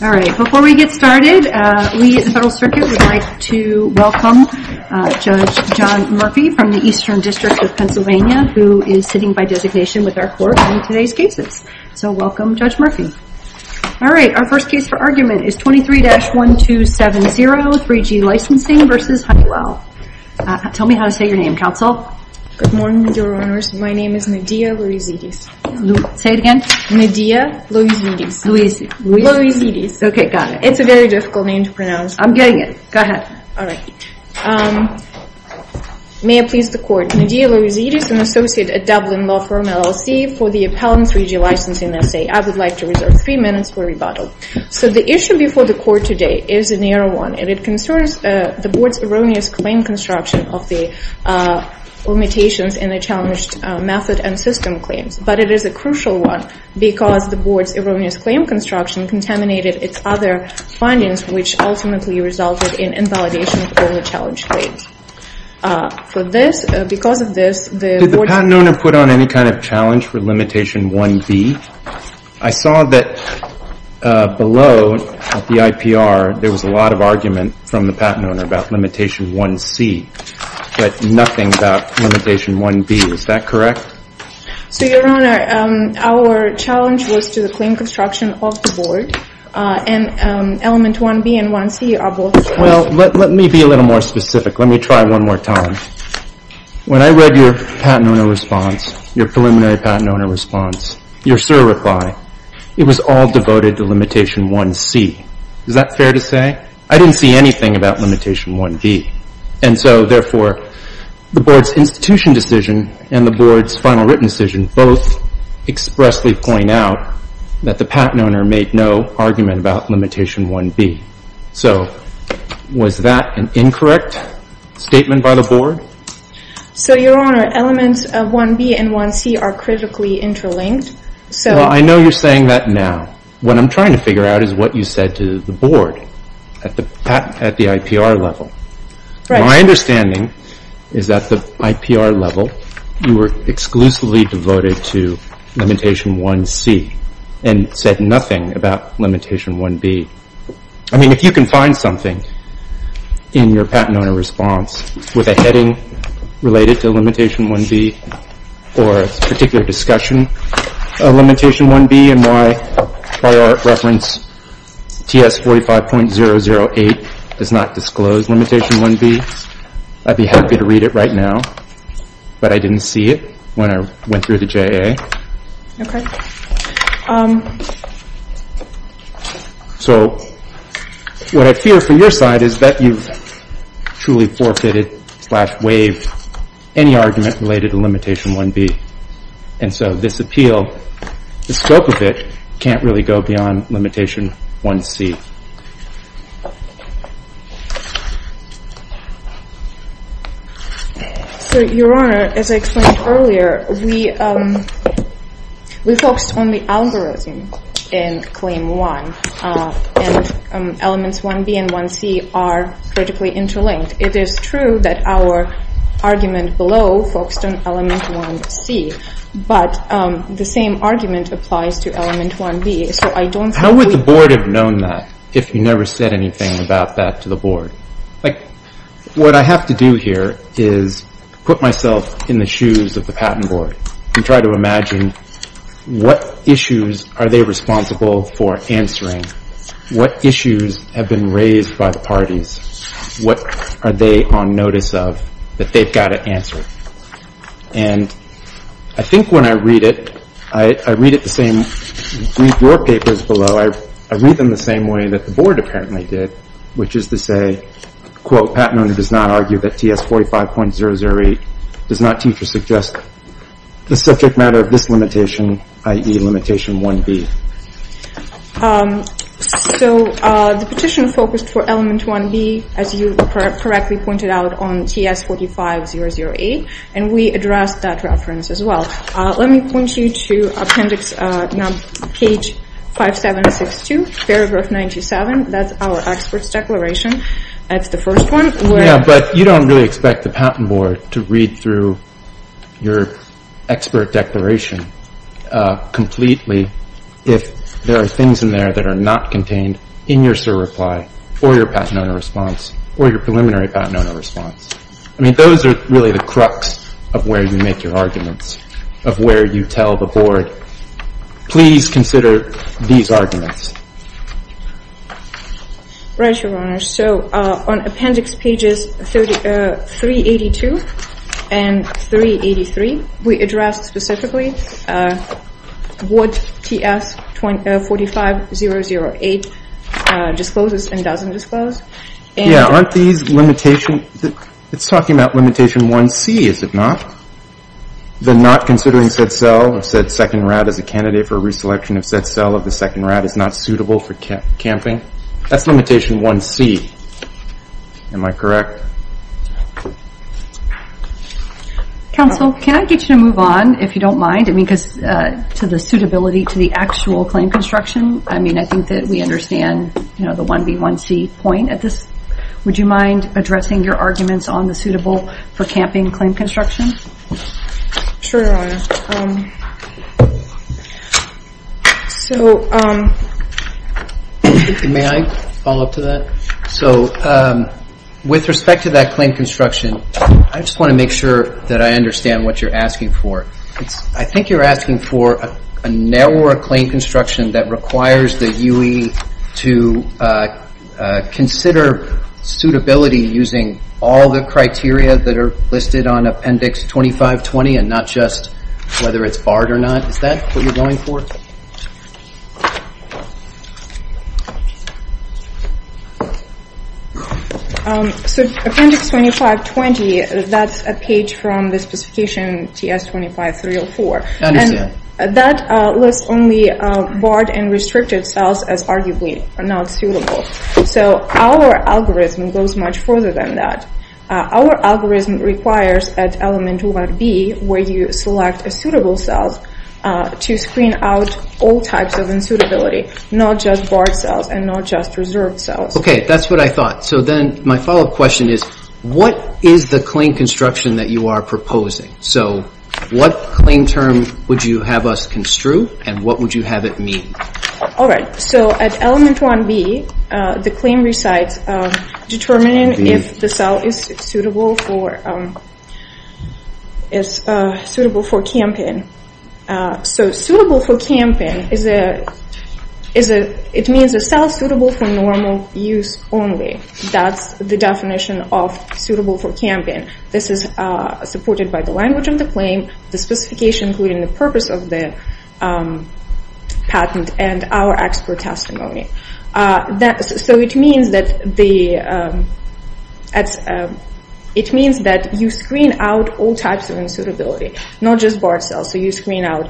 Before we get started, we at the Federal Circuit would like to welcome Judge John Murphy from the Eastern District of Pennsylvania, who is sitting by designation with our court in today's cases. So welcome, Judge Murphy. All right, our first case for argument is 23-1270, 3G Licensing v. Honeywell. Tell me how to say your name, Counsel. Good morning, Your Honors. My name is Nadea Louizidis. Say it again. Nadea Louizidis. Louizidis. Okay, got it. It's a very difficult name to pronounce. I'm getting it. Go ahead. All right. May it please the Court. Nadea Louizidis, an associate at Dublin Law Firm, LLC, for the Appellant's 3G Licensing, S.A. I would like to reserve three minutes for rebuttal. So the issue before the Court today is a narrow one, and it concerns the Board's erroneous claim construction of the limitations in the challenged method and system claims. But it is a crucial one because the Board's erroneous claim construction contaminated its other findings, which ultimately resulted in invalidation of early challenge claims. Because of this, the Board— Did the patent owner put on any kind of challenge for limitation 1B? I saw that below at the IPR, there was a lot of argument from the patent owner about limitation 1C, but nothing about limitation 1B. Is that correct? So, Your Honor, our challenge was to the claim construction of the Board, and element 1B and 1C are both— Well, let me be a little more specific. Let me try one more time. When I read your patent owner response, your preliminary patent owner response, your SIR reply, it was all devoted to limitation 1C. Is that fair to say? I didn't see anything about limitation 1B. And so, therefore, the Board's institution decision and the Board's final written decision both expressly point out that the patent owner made no argument about limitation 1B. So, was that an incorrect statement by the Board? So, Your Honor, elements of 1B and 1C are critically interlinked, so— Well, I know you're saying that now. What I'm trying to figure out is what you said to the Board at the IPR level. My understanding is that the IPR level, you were exclusively devoted to limitation 1C and said nothing about limitation 1B. I mean, if you can find something in your patent owner response with a heading related to limitation 1B or a particular discussion of limitation 1B and why our reference TS 45.008 does not disclose limitation 1B, I'd be happy to read it right now. But I didn't see it when I went through the JA. Okay. So, what I fear from your side is that you've truly forfeited slash waived any argument related to limitation 1B. And so, this appeal, the scope of it can't really go beyond limitation 1C. So, Your Honor, as I explained earlier, we focused on the algorithm in claim one, and elements 1B and 1C are critically interlinked. It is true that our argument below focused on element 1C, but the same argument applies to element 1B, so I don't How would the Board have known that if you never said anything about that to the Board? What I have to do here is put myself in the shoes of the Patent Board and try to imagine what issues are they responsible for answering? What issues have been raised by the parties? What are they on notice of that they've got to answer? And I think when I read it, I read it the same, read your papers below, I read them the same way that the Board apparently did, which is to say, quote, Patent Owner does not argue that TS 45.008 does not teach or suggest the subject matter of this limitation, i.e. limitation 1B. So, the petition focused for element 1B, as you correctly pointed out, on TS 45.008, and we addressed that reference as well. Let me point you to appendix, page 5762, paragraph 97. That's our expert's declaration. That's the first one. Yeah, but you don't really expect the Patent Board to read through your expert declaration completely if there are things in there that are not contained in your SIR reply, or your Patent Owner response, or your preliminary Patent Owner response. I mean, those are really the crux of where you make your arguments, of where you tell the Board, please consider these arguments. Right, Your Honor. So, on appendix pages 382 and 383, we address specifically what TS 45.008 discloses and doesn't disclose. Yeah, aren't these limitations? It's talking about limitation 1C, is it not? The not considering said cell or said second rat as a candidate for a reselection of said cell of the second rat is not suitable for camping. That's limitation 1C. Am I correct? Yes, Your Honor. Counsel, can I get you to move on if you don't mind? I mean, because to the suitability to the actual claim construction, I mean, I think that we understand, you know, the 1B, 1C point at this. Would you mind addressing your arguments on the suitable for camping claim construction? Sure, Your Honor. So... May I follow up to that? So, with respect to that claim construction, I just want to make sure that I understand what you're asking for. I think you're asking for a narrower claim construction that requires the UE to consider suitability using all the criteria that are listed on appendix 2520 and not just whether it's barred or not. Is that what you're going for? So, appendix 2520, that's a page from the specification TS 25304. I understand. And that lists only barred and restricted cells as arguably not suitable. So, our algorithm goes much further than that. Our algorithm requires at element 1B, where you select a suitable cell to screen out all types of unsuitability, not just barred cells and not just barred cells. And not just reserved cells. Okay, that's what I thought. So, then my follow-up question is, what is the claim construction that you are proposing? So, what claim term would you have us construe and what would you have it mean? All right. So, at element 1B, the claim recites determining if the cell is suitable for camping. So, suitable for camping, it means a cell suitable for normal use only. That's the definition of suitable for camping. This is supported by the language of the claim, the specification, including the purpose of the patent and our expert testimony. So, it means that you screen out all types of unsuitability, not just barred cells. So, you screen out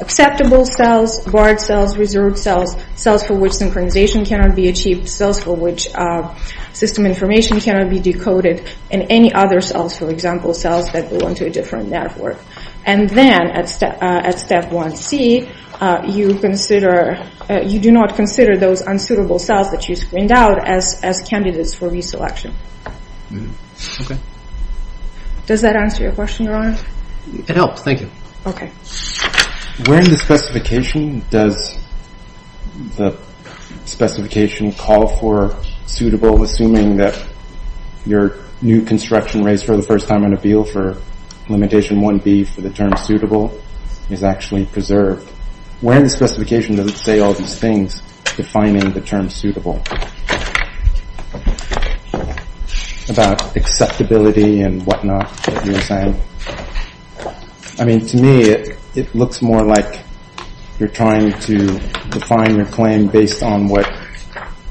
acceptable cells, barred cells, reserved cells, cells for which synchronization cannot be achieved, cells for which system information cannot be decoded, and any other cells, for example, cells that belong to a different network. And then, at step 1C, you do not consider those unsuitable cells that you screened out as candidates for reselection. Okay. Does that answer your question, Your Honor? It helps. Thank you. Where in the specification does the specification call for suitable, assuming that your new construction raised for the first time on appeal for limitation 1B for the term suitable is actually preserved? Where in the specification does it say all these things defining the term suitable? About acceptability and whatnot that you were saying? I mean, to me, it looks more like you're trying to define your claim based on what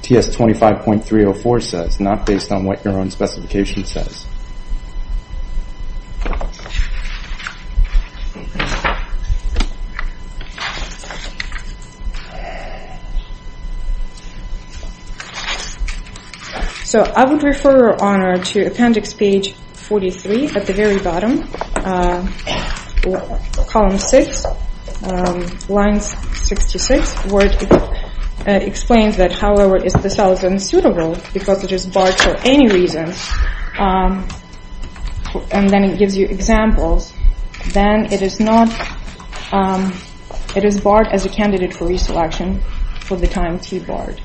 TS 25.304 says, not based on what your own specification says. So, I would refer, Your Honor, to appendix page 43 at the very bottom. Column 6, line 66, where it explains that, however, if the cell is unsuitable because it is barred for any reason, and then it gives you examples, then it is not, it is barred as a candidate for reselection for the time T barred.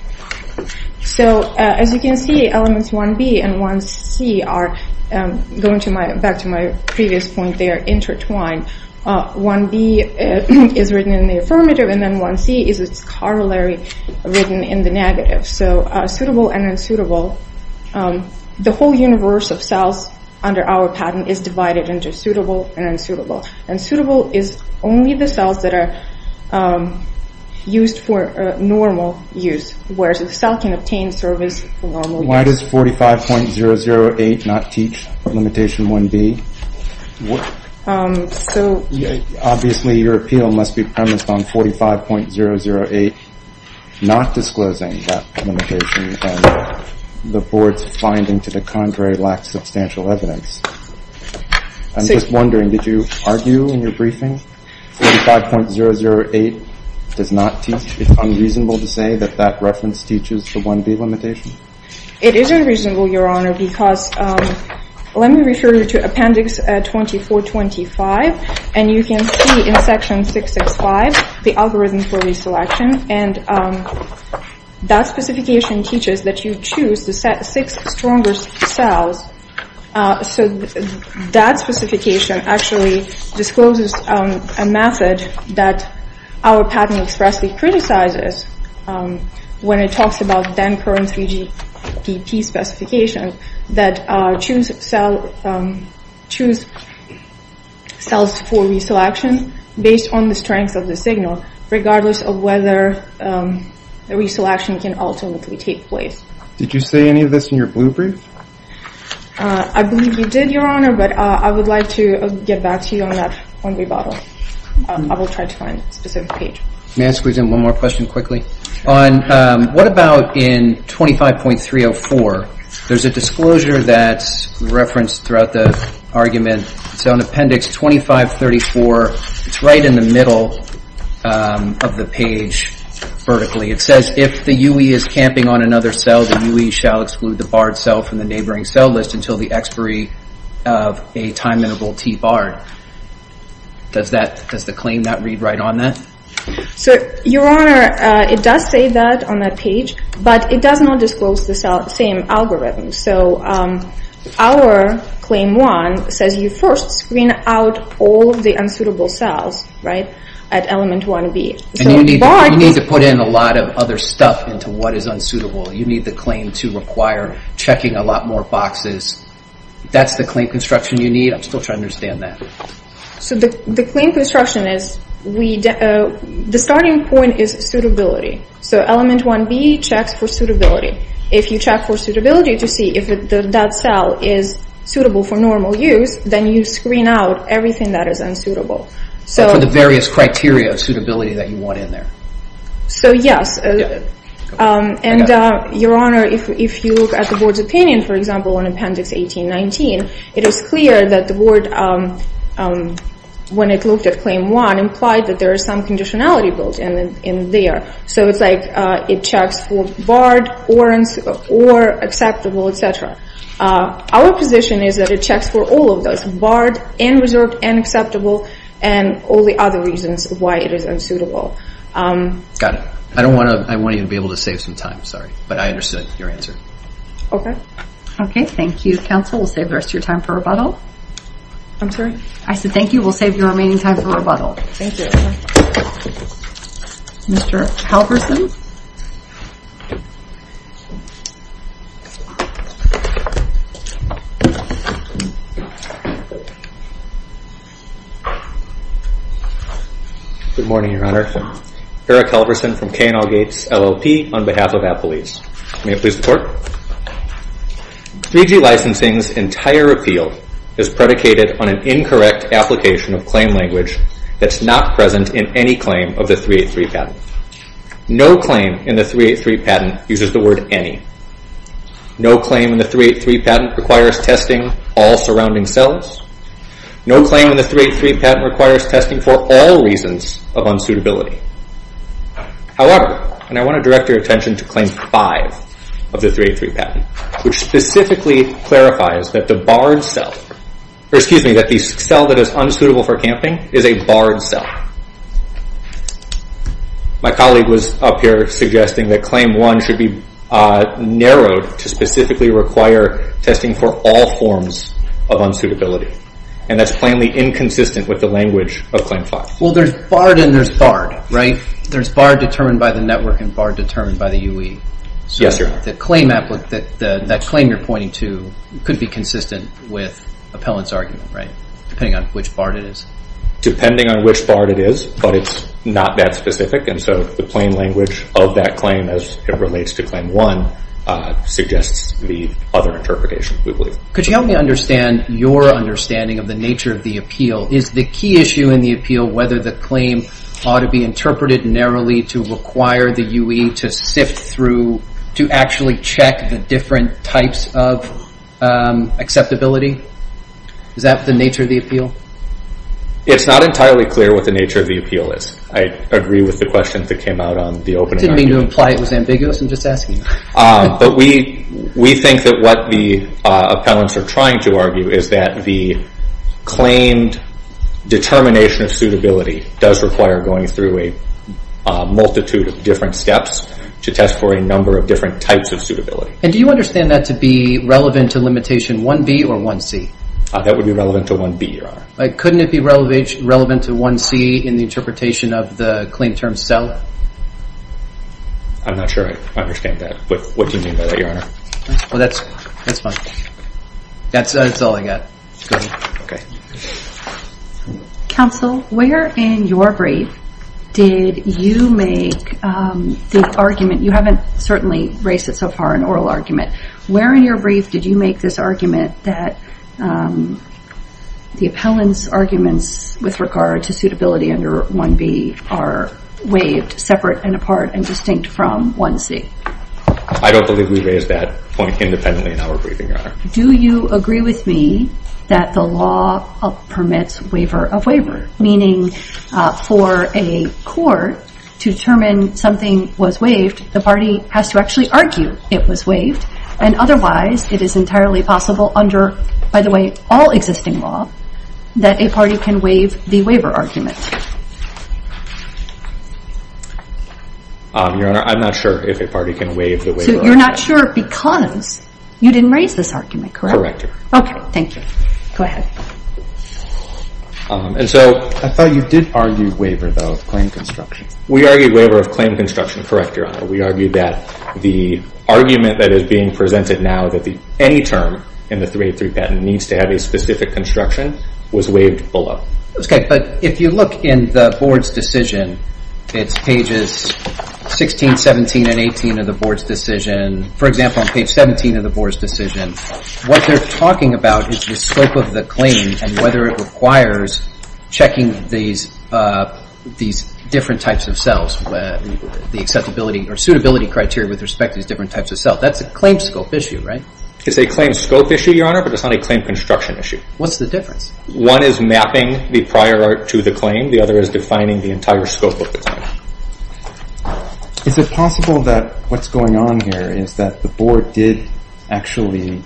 So, as you can see, elements 1B and 1C are, going back to my previous point, they are intertwined. 1B is written in the affirmative, and then 1C is its corollary written in the negative. So, suitable and unsuitable, the whole universe of cells under our patent is divided into suitable and unsuitable. And suitable is only the cells that are used for normal use, whereas the cell can obtain service for normal use. Why does 45.008 not teach limitation 1B? So, obviously, your appeal must be premised on 45.008 not disclosing that limitation and the Board's finding to the contrary lacks substantial evidence. I'm just wondering, did you argue in your briefing 45.008 does not teach? It's unreasonable to say that that reference teaches the 1B limitation? It is unreasonable, Your Honor, because, let me refer you to Appendix 2425, and you can see in Section 665 the algorithm for reselection, and that specification teaches that you choose the six strongest cells. So, that specification actually discloses a method that our patent expressly criticizes when it talks about then-current 3GPP specifications that choose cells for reselection based on the strength of the signal, regardless of whether the reselection can ultimately take place. Did you say any of this in your blue brief? I believe you did, Your Honor, but I would like to get back to you on that 1B bottle. I will try to find the specific page. May I squeeze in one more question quickly? What about in 25.304? There's a disclosure that's referenced throughout the argument. It's on Appendix 2534. It's right in the middle of the page vertically. It says, if the UE is camping on another cell, the UE shall exclude the barred cell from the neighboring cell list until the expiry of a time-interval T barred. Does the claim not read right on that? So, Your Honor, it does say that on that page, but it does not disclose the same algorithm. So, our Claim 1 says you first screen out all of the unsuitable cells, right, at element 1B. And you need to put in a lot of other stuff into what is unsuitable. You need the claim to require checking a lot more boxes. That's the claim construction you need. I'm still trying to understand that. So, the claim construction is, the starting point is suitability. So, element 1B checks for suitability. If you check for suitability to see if that cell is suitable for normal use, then you screen out everything that is unsuitable. So, for the various criteria of suitability that you want in there. So, yes. And, Your Honor, if you look at the Board's opinion, for example, on Appendix 1819, it is clear that the Board, when it looked at Claim 1, implied that there is some conditionality built in there. So, it's like it checks for barred, or acceptable, etc. Our position is that it checks for all of those. Barred, and reserved, and acceptable, and all the other reasons why it is unsuitable. Got it. I don't want to, I won't even be able to save some time. Sorry. But I understood your answer. Okay. Okay. Thank you. Counsel, we'll save the rest of your time for rebuttal. I'm sorry? I said, thank you. We'll save your remaining time for rebuttal. Thank you. Mr. Halverson. Good morning, Your Honor. Eric Halverson from K&L Gates, LLP, on behalf of Applebees. May I please report? 3G licensing's entire appeal is predicated on an incorrect application of claim language that's not present in any claim of the 383 patent. No claim in the 383 patent uses the word, any. No claim in the 383 patent requires testing all surrounding cells. No claim in the 383 patent requires testing for all reasons of unsuitability. However, and I want to direct your attention to Claim 5 of the 383 patent. Which specifically clarifies that the barred cell, or excuse me, that the cell that is unsuitable for camping is a barred cell. My colleague was up here suggesting that Claim 1 should be narrowed to specifically require testing for all forms of unsuitability. And that's plainly inconsistent with the language of Claim 5. Well, there's barred and there's barred, right? There's barred determined by the network and barred determined by the UE. Yes, Your Honor. The claim you're pointing to could be consistent with appellant's argument, right? Depending on which barred it is. Depending on which barred it is, but it's not that specific. And so the plain language of that claim as it relates to Claim 1 suggests the other interpretation, we believe. Could you help me understand your understanding of the nature of the appeal? Is the key issue in the appeal whether the claim ought to be interpreted narrowly to require the UE to sift through, to actually check the different types of acceptability? Is that the nature of the appeal? It's not entirely clear what the nature of the appeal is. I agree with the questions that came out on the opening argument. I didn't mean to imply it was ambiguous. I'm just asking. But we think that what the appellants are trying to argue is that the claimed determination of suitability does require going through a multitude of different steps to test for a number of different types of suitability. And do you understand that to be relevant to limitation 1B or 1C? That would be relevant to 1B, Your Honor. Couldn't it be relevant to 1C in the interpretation of the claim term sell? I'm not sure I understand that. What do you mean by that, Your Honor? Well, that's fine. That's all I got. Okay. Counsel, where in your brief did you make the argument? You haven't certainly raised it so far, an oral argument. Where in your brief did you make this argument that the appellant's arguments with regard to suitability under 1B are waived separate and apart and distinct from 1C? I don't believe we raised that point independently in our briefing, Your Honor. Do you agree with me that the law permits waiver of waiver? Meaning for a court to determine something was waived, the party has to actually argue it was waived. And otherwise, it is entirely possible under, by the way, all existing law that a party can waive the waiver argument. Your Honor, I'm not sure if a party can waive the waiver argument. You're not sure because you didn't raise this argument, correct? Correct, Your Honor. Okay. Thank you. Go ahead. And so I thought you did argue waiver, though, of claim construction. We argued waiver of claim construction, correct, Your Honor. We argued that the argument that is being presented now, that any term in the 383 patent needs to have a specific construction, was waived below. Okay. But if you look in the board's decision, it's pages 16, 17, and 18 of the board's decision. For example, on page 17 of the board's decision, what they're talking about is the scope of the claim and whether it requires checking these different types of cells, the acceptability or suitability criteria with respect to these different types of cells. That's a claim scope issue, right? It's a claim scope issue, Your Honor, but it's not a claim construction issue. What's the difference? One is mapping the prior art to the claim. The other is defining the entire scope of the claim. Is it possible that what's going on here is that the board did actually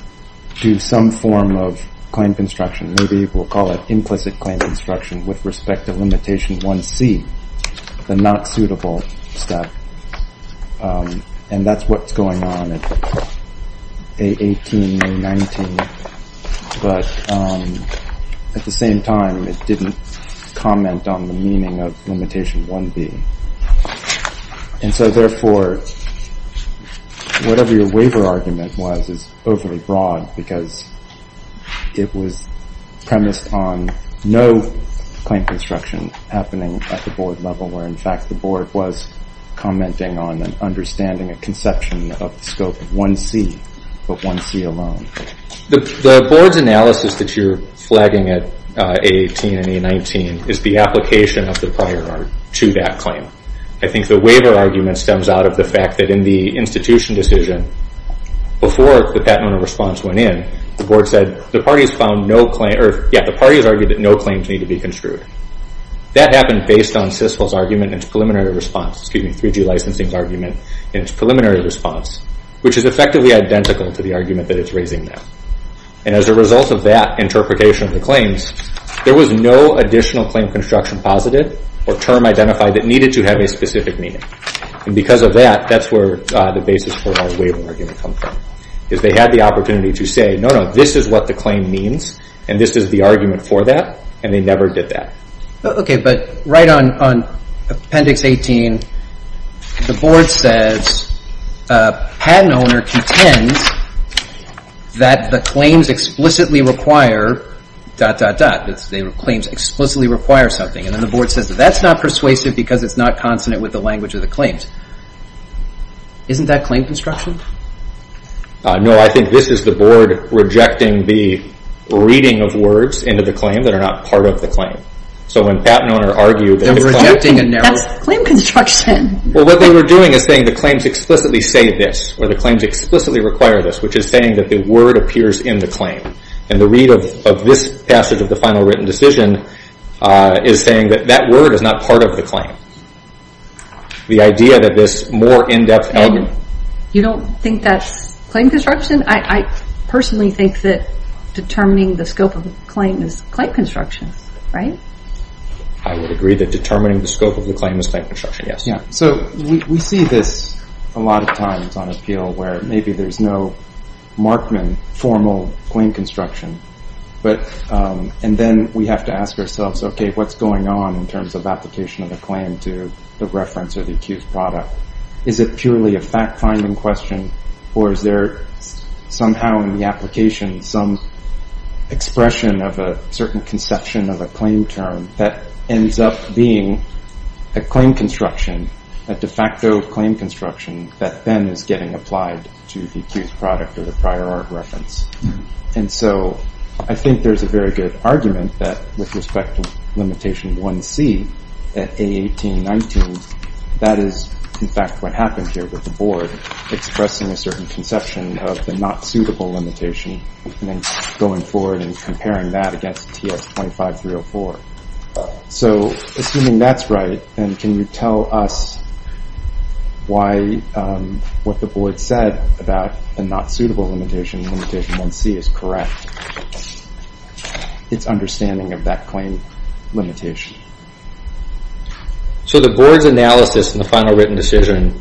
do some form of claim construction? Maybe we'll call it implicit claim construction with respect to limitation 1C, the not suitable step, and that's what's going on at A18, A19. But at the same time, it didn't comment on the meaning of limitation 1B. And so, therefore, whatever your waiver argument was is overly broad because it was premised on no claim construction happening at the board level where, in fact, the board was commenting on and understanding a conception of the scope of 1C, but 1C alone. The board's analysis that you're flagging at A18 and A19 is the application of the prior art to that claim. I think the waiver argument stems out of the fact that in the institution decision, before the patent owner response went in, the board said the parties found no claim, or, yeah, the parties argued that no claims need to be construed. That happened based on CISL's argument and its preliminary response, excuse me, 3G licensing's argument and its preliminary response, which is effectively identical to the argument that it's raising now. And as a result of that interpretation of the claims, there was no additional claim construction positive or term identified that needed to have a specific meaning. And because of that, that's where the basis for our waiver argument comes from, is they had the opportunity to say, no, no, this is what the claim means, and this is the argument for that, and they never did that. Okay, but right on Appendix 18, the board says a patent owner contends that the claims explicitly require dot, dot, dot. The claims explicitly require something. And then the board says that that's not persuasive because it's not consonant with the language of the claims. Isn't that claim construction? No, I think this is the board rejecting the reading of words into the claim that are not part of the claim. So when a patent owner argued that... They're rejecting a narrative. That's claim construction. Well, what they were doing is saying the claims explicitly say this, or the claims explicitly require this, which is saying that the word appears in the claim. And the read of this passage of the final written decision is saying that that word is not part of the claim. The idea that this more in-depth... You don't think that's claim construction? I personally think that determining the scope of the claim is claim construction, right? I would agree that determining the scope of the claim is claim construction, yes. So we see this a lot of times on appeal where maybe there's no Markman formal claim construction. And then we have to ask ourselves, okay, what's going on in terms of application of a claim to the reference or the accused product? Is it purely a fact-finding question? Or is there somehow in the application some expression of a certain conception of a claim term that ends up being a claim construction, a de facto claim construction that then is getting applied to the accused product or the prior art reference? And so I think there's a very good argument that with respect to limitation 1C at A1819, that is in fact what happened here with the board expressing a certain conception of the not suitable limitation and then going forward and comparing that against TS 25304. So assuming that's right, then can you tell us why what the board said about the not suitable limitation, limitation 1C is correct? It's understanding of that claim limitation. So the board's analysis in the final written decision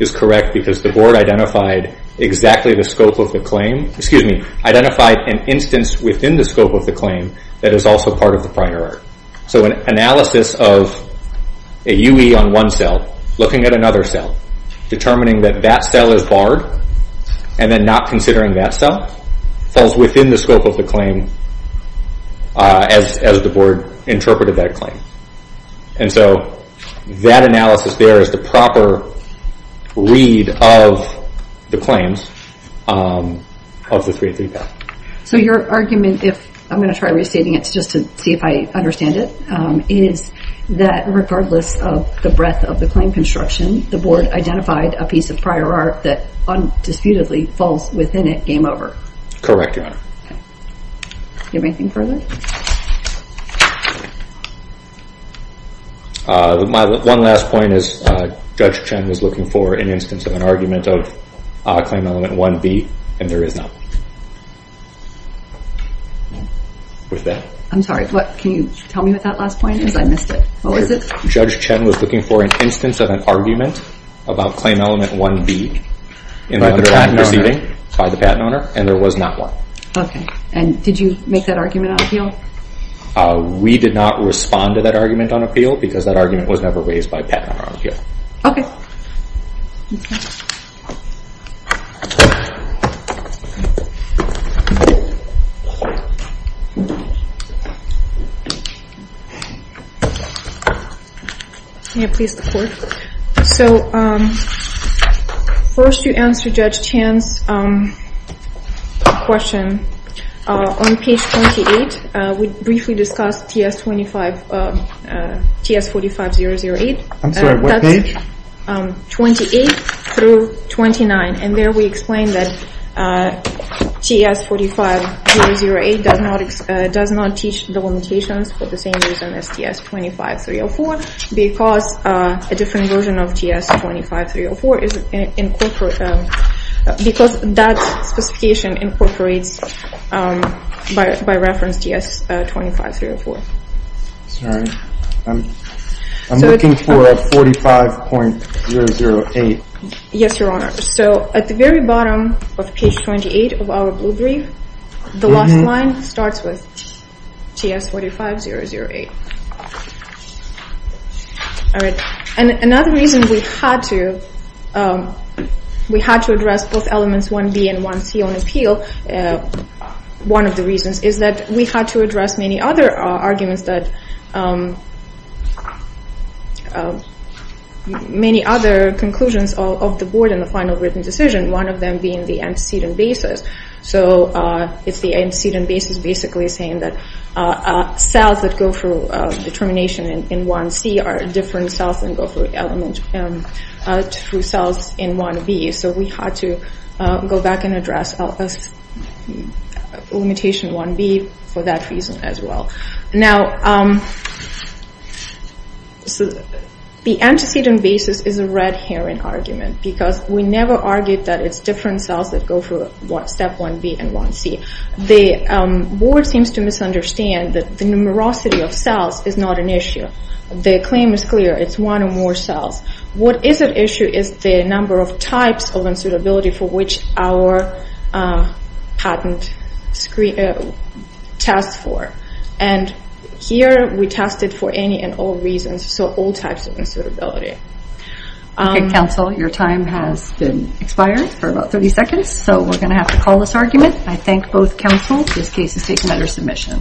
is correct because the board identified exactly the scope of the claim, excuse me, identified an instance within the scope of the claim that is also part of the prior art. So an analysis of a UE on one cell, looking at another cell, determining that that cell is barred and then not considering that cell falls within the scope of the claim as the board interpreted that claim. And so that analysis there is the proper read of the claims of the 383 path. So your argument, if I'm going to try restating it just to see if I understand it, is that regardless of the breadth of the claim construction, the board identified a piece of prior art that undisputedly falls within it, game over. Correct, Your Honor. Do you have anything further? One last point is Judge Chen was looking for an instance of an argument of claim element 1B and there is not. With that. I'm sorry, can you tell me what that last point is? I missed it. What was it? Judge Chen was looking for an instance of an argument about claim element 1B in the underlying proceeding by the patent owner and there was not one. Okay, and did you make that argument on appeal? We did not respond to that argument on appeal because that argument was never raised by a patent owner on appeal. Okay. Can I please report? So first you answered Judge Chen's question on page 28. We briefly discussed TS-45008. I'm sorry, what page? 28 through 29 and there we explained that TS-45008 does not teach the limitations for the same reason as TS-25304 because a different version of TS-25304 is incorporated because that specification incorporates by reference TS-25304. Sorry, I'm looking for 45.008. Yes, Your Honor. So at the very bottom of page 28 of our blue brief the last line starts with TS-45008. All right, and another reason we had to address both elements 1B and 1C on appeal. One of the reasons is that we had to address many other arguments that... many other conclusions of the board in the final written decision one of them being the antecedent basis. So it's the antecedent basis basically saying that cells that go through determination in 1C are different cells and go through element... through cells in 1B. So we had to go back and address limitation 1B for that reason as well. Now the antecedent basis is a red herring argument because we never argued that it's different cells that go through step 1B and 1C. The board seems to misunderstand that the numerosity of cells is not an issue. The claim is clear. It's one or more cells. What is at issue is the number of types of unsuitability for which our patent test for. And here we test it for any and all reasons so all types of unsuitability. Okay counsel your time has been expired for about 30 seconds so we're going to have to call this argument. I thank both counsels. This case is taken under submission.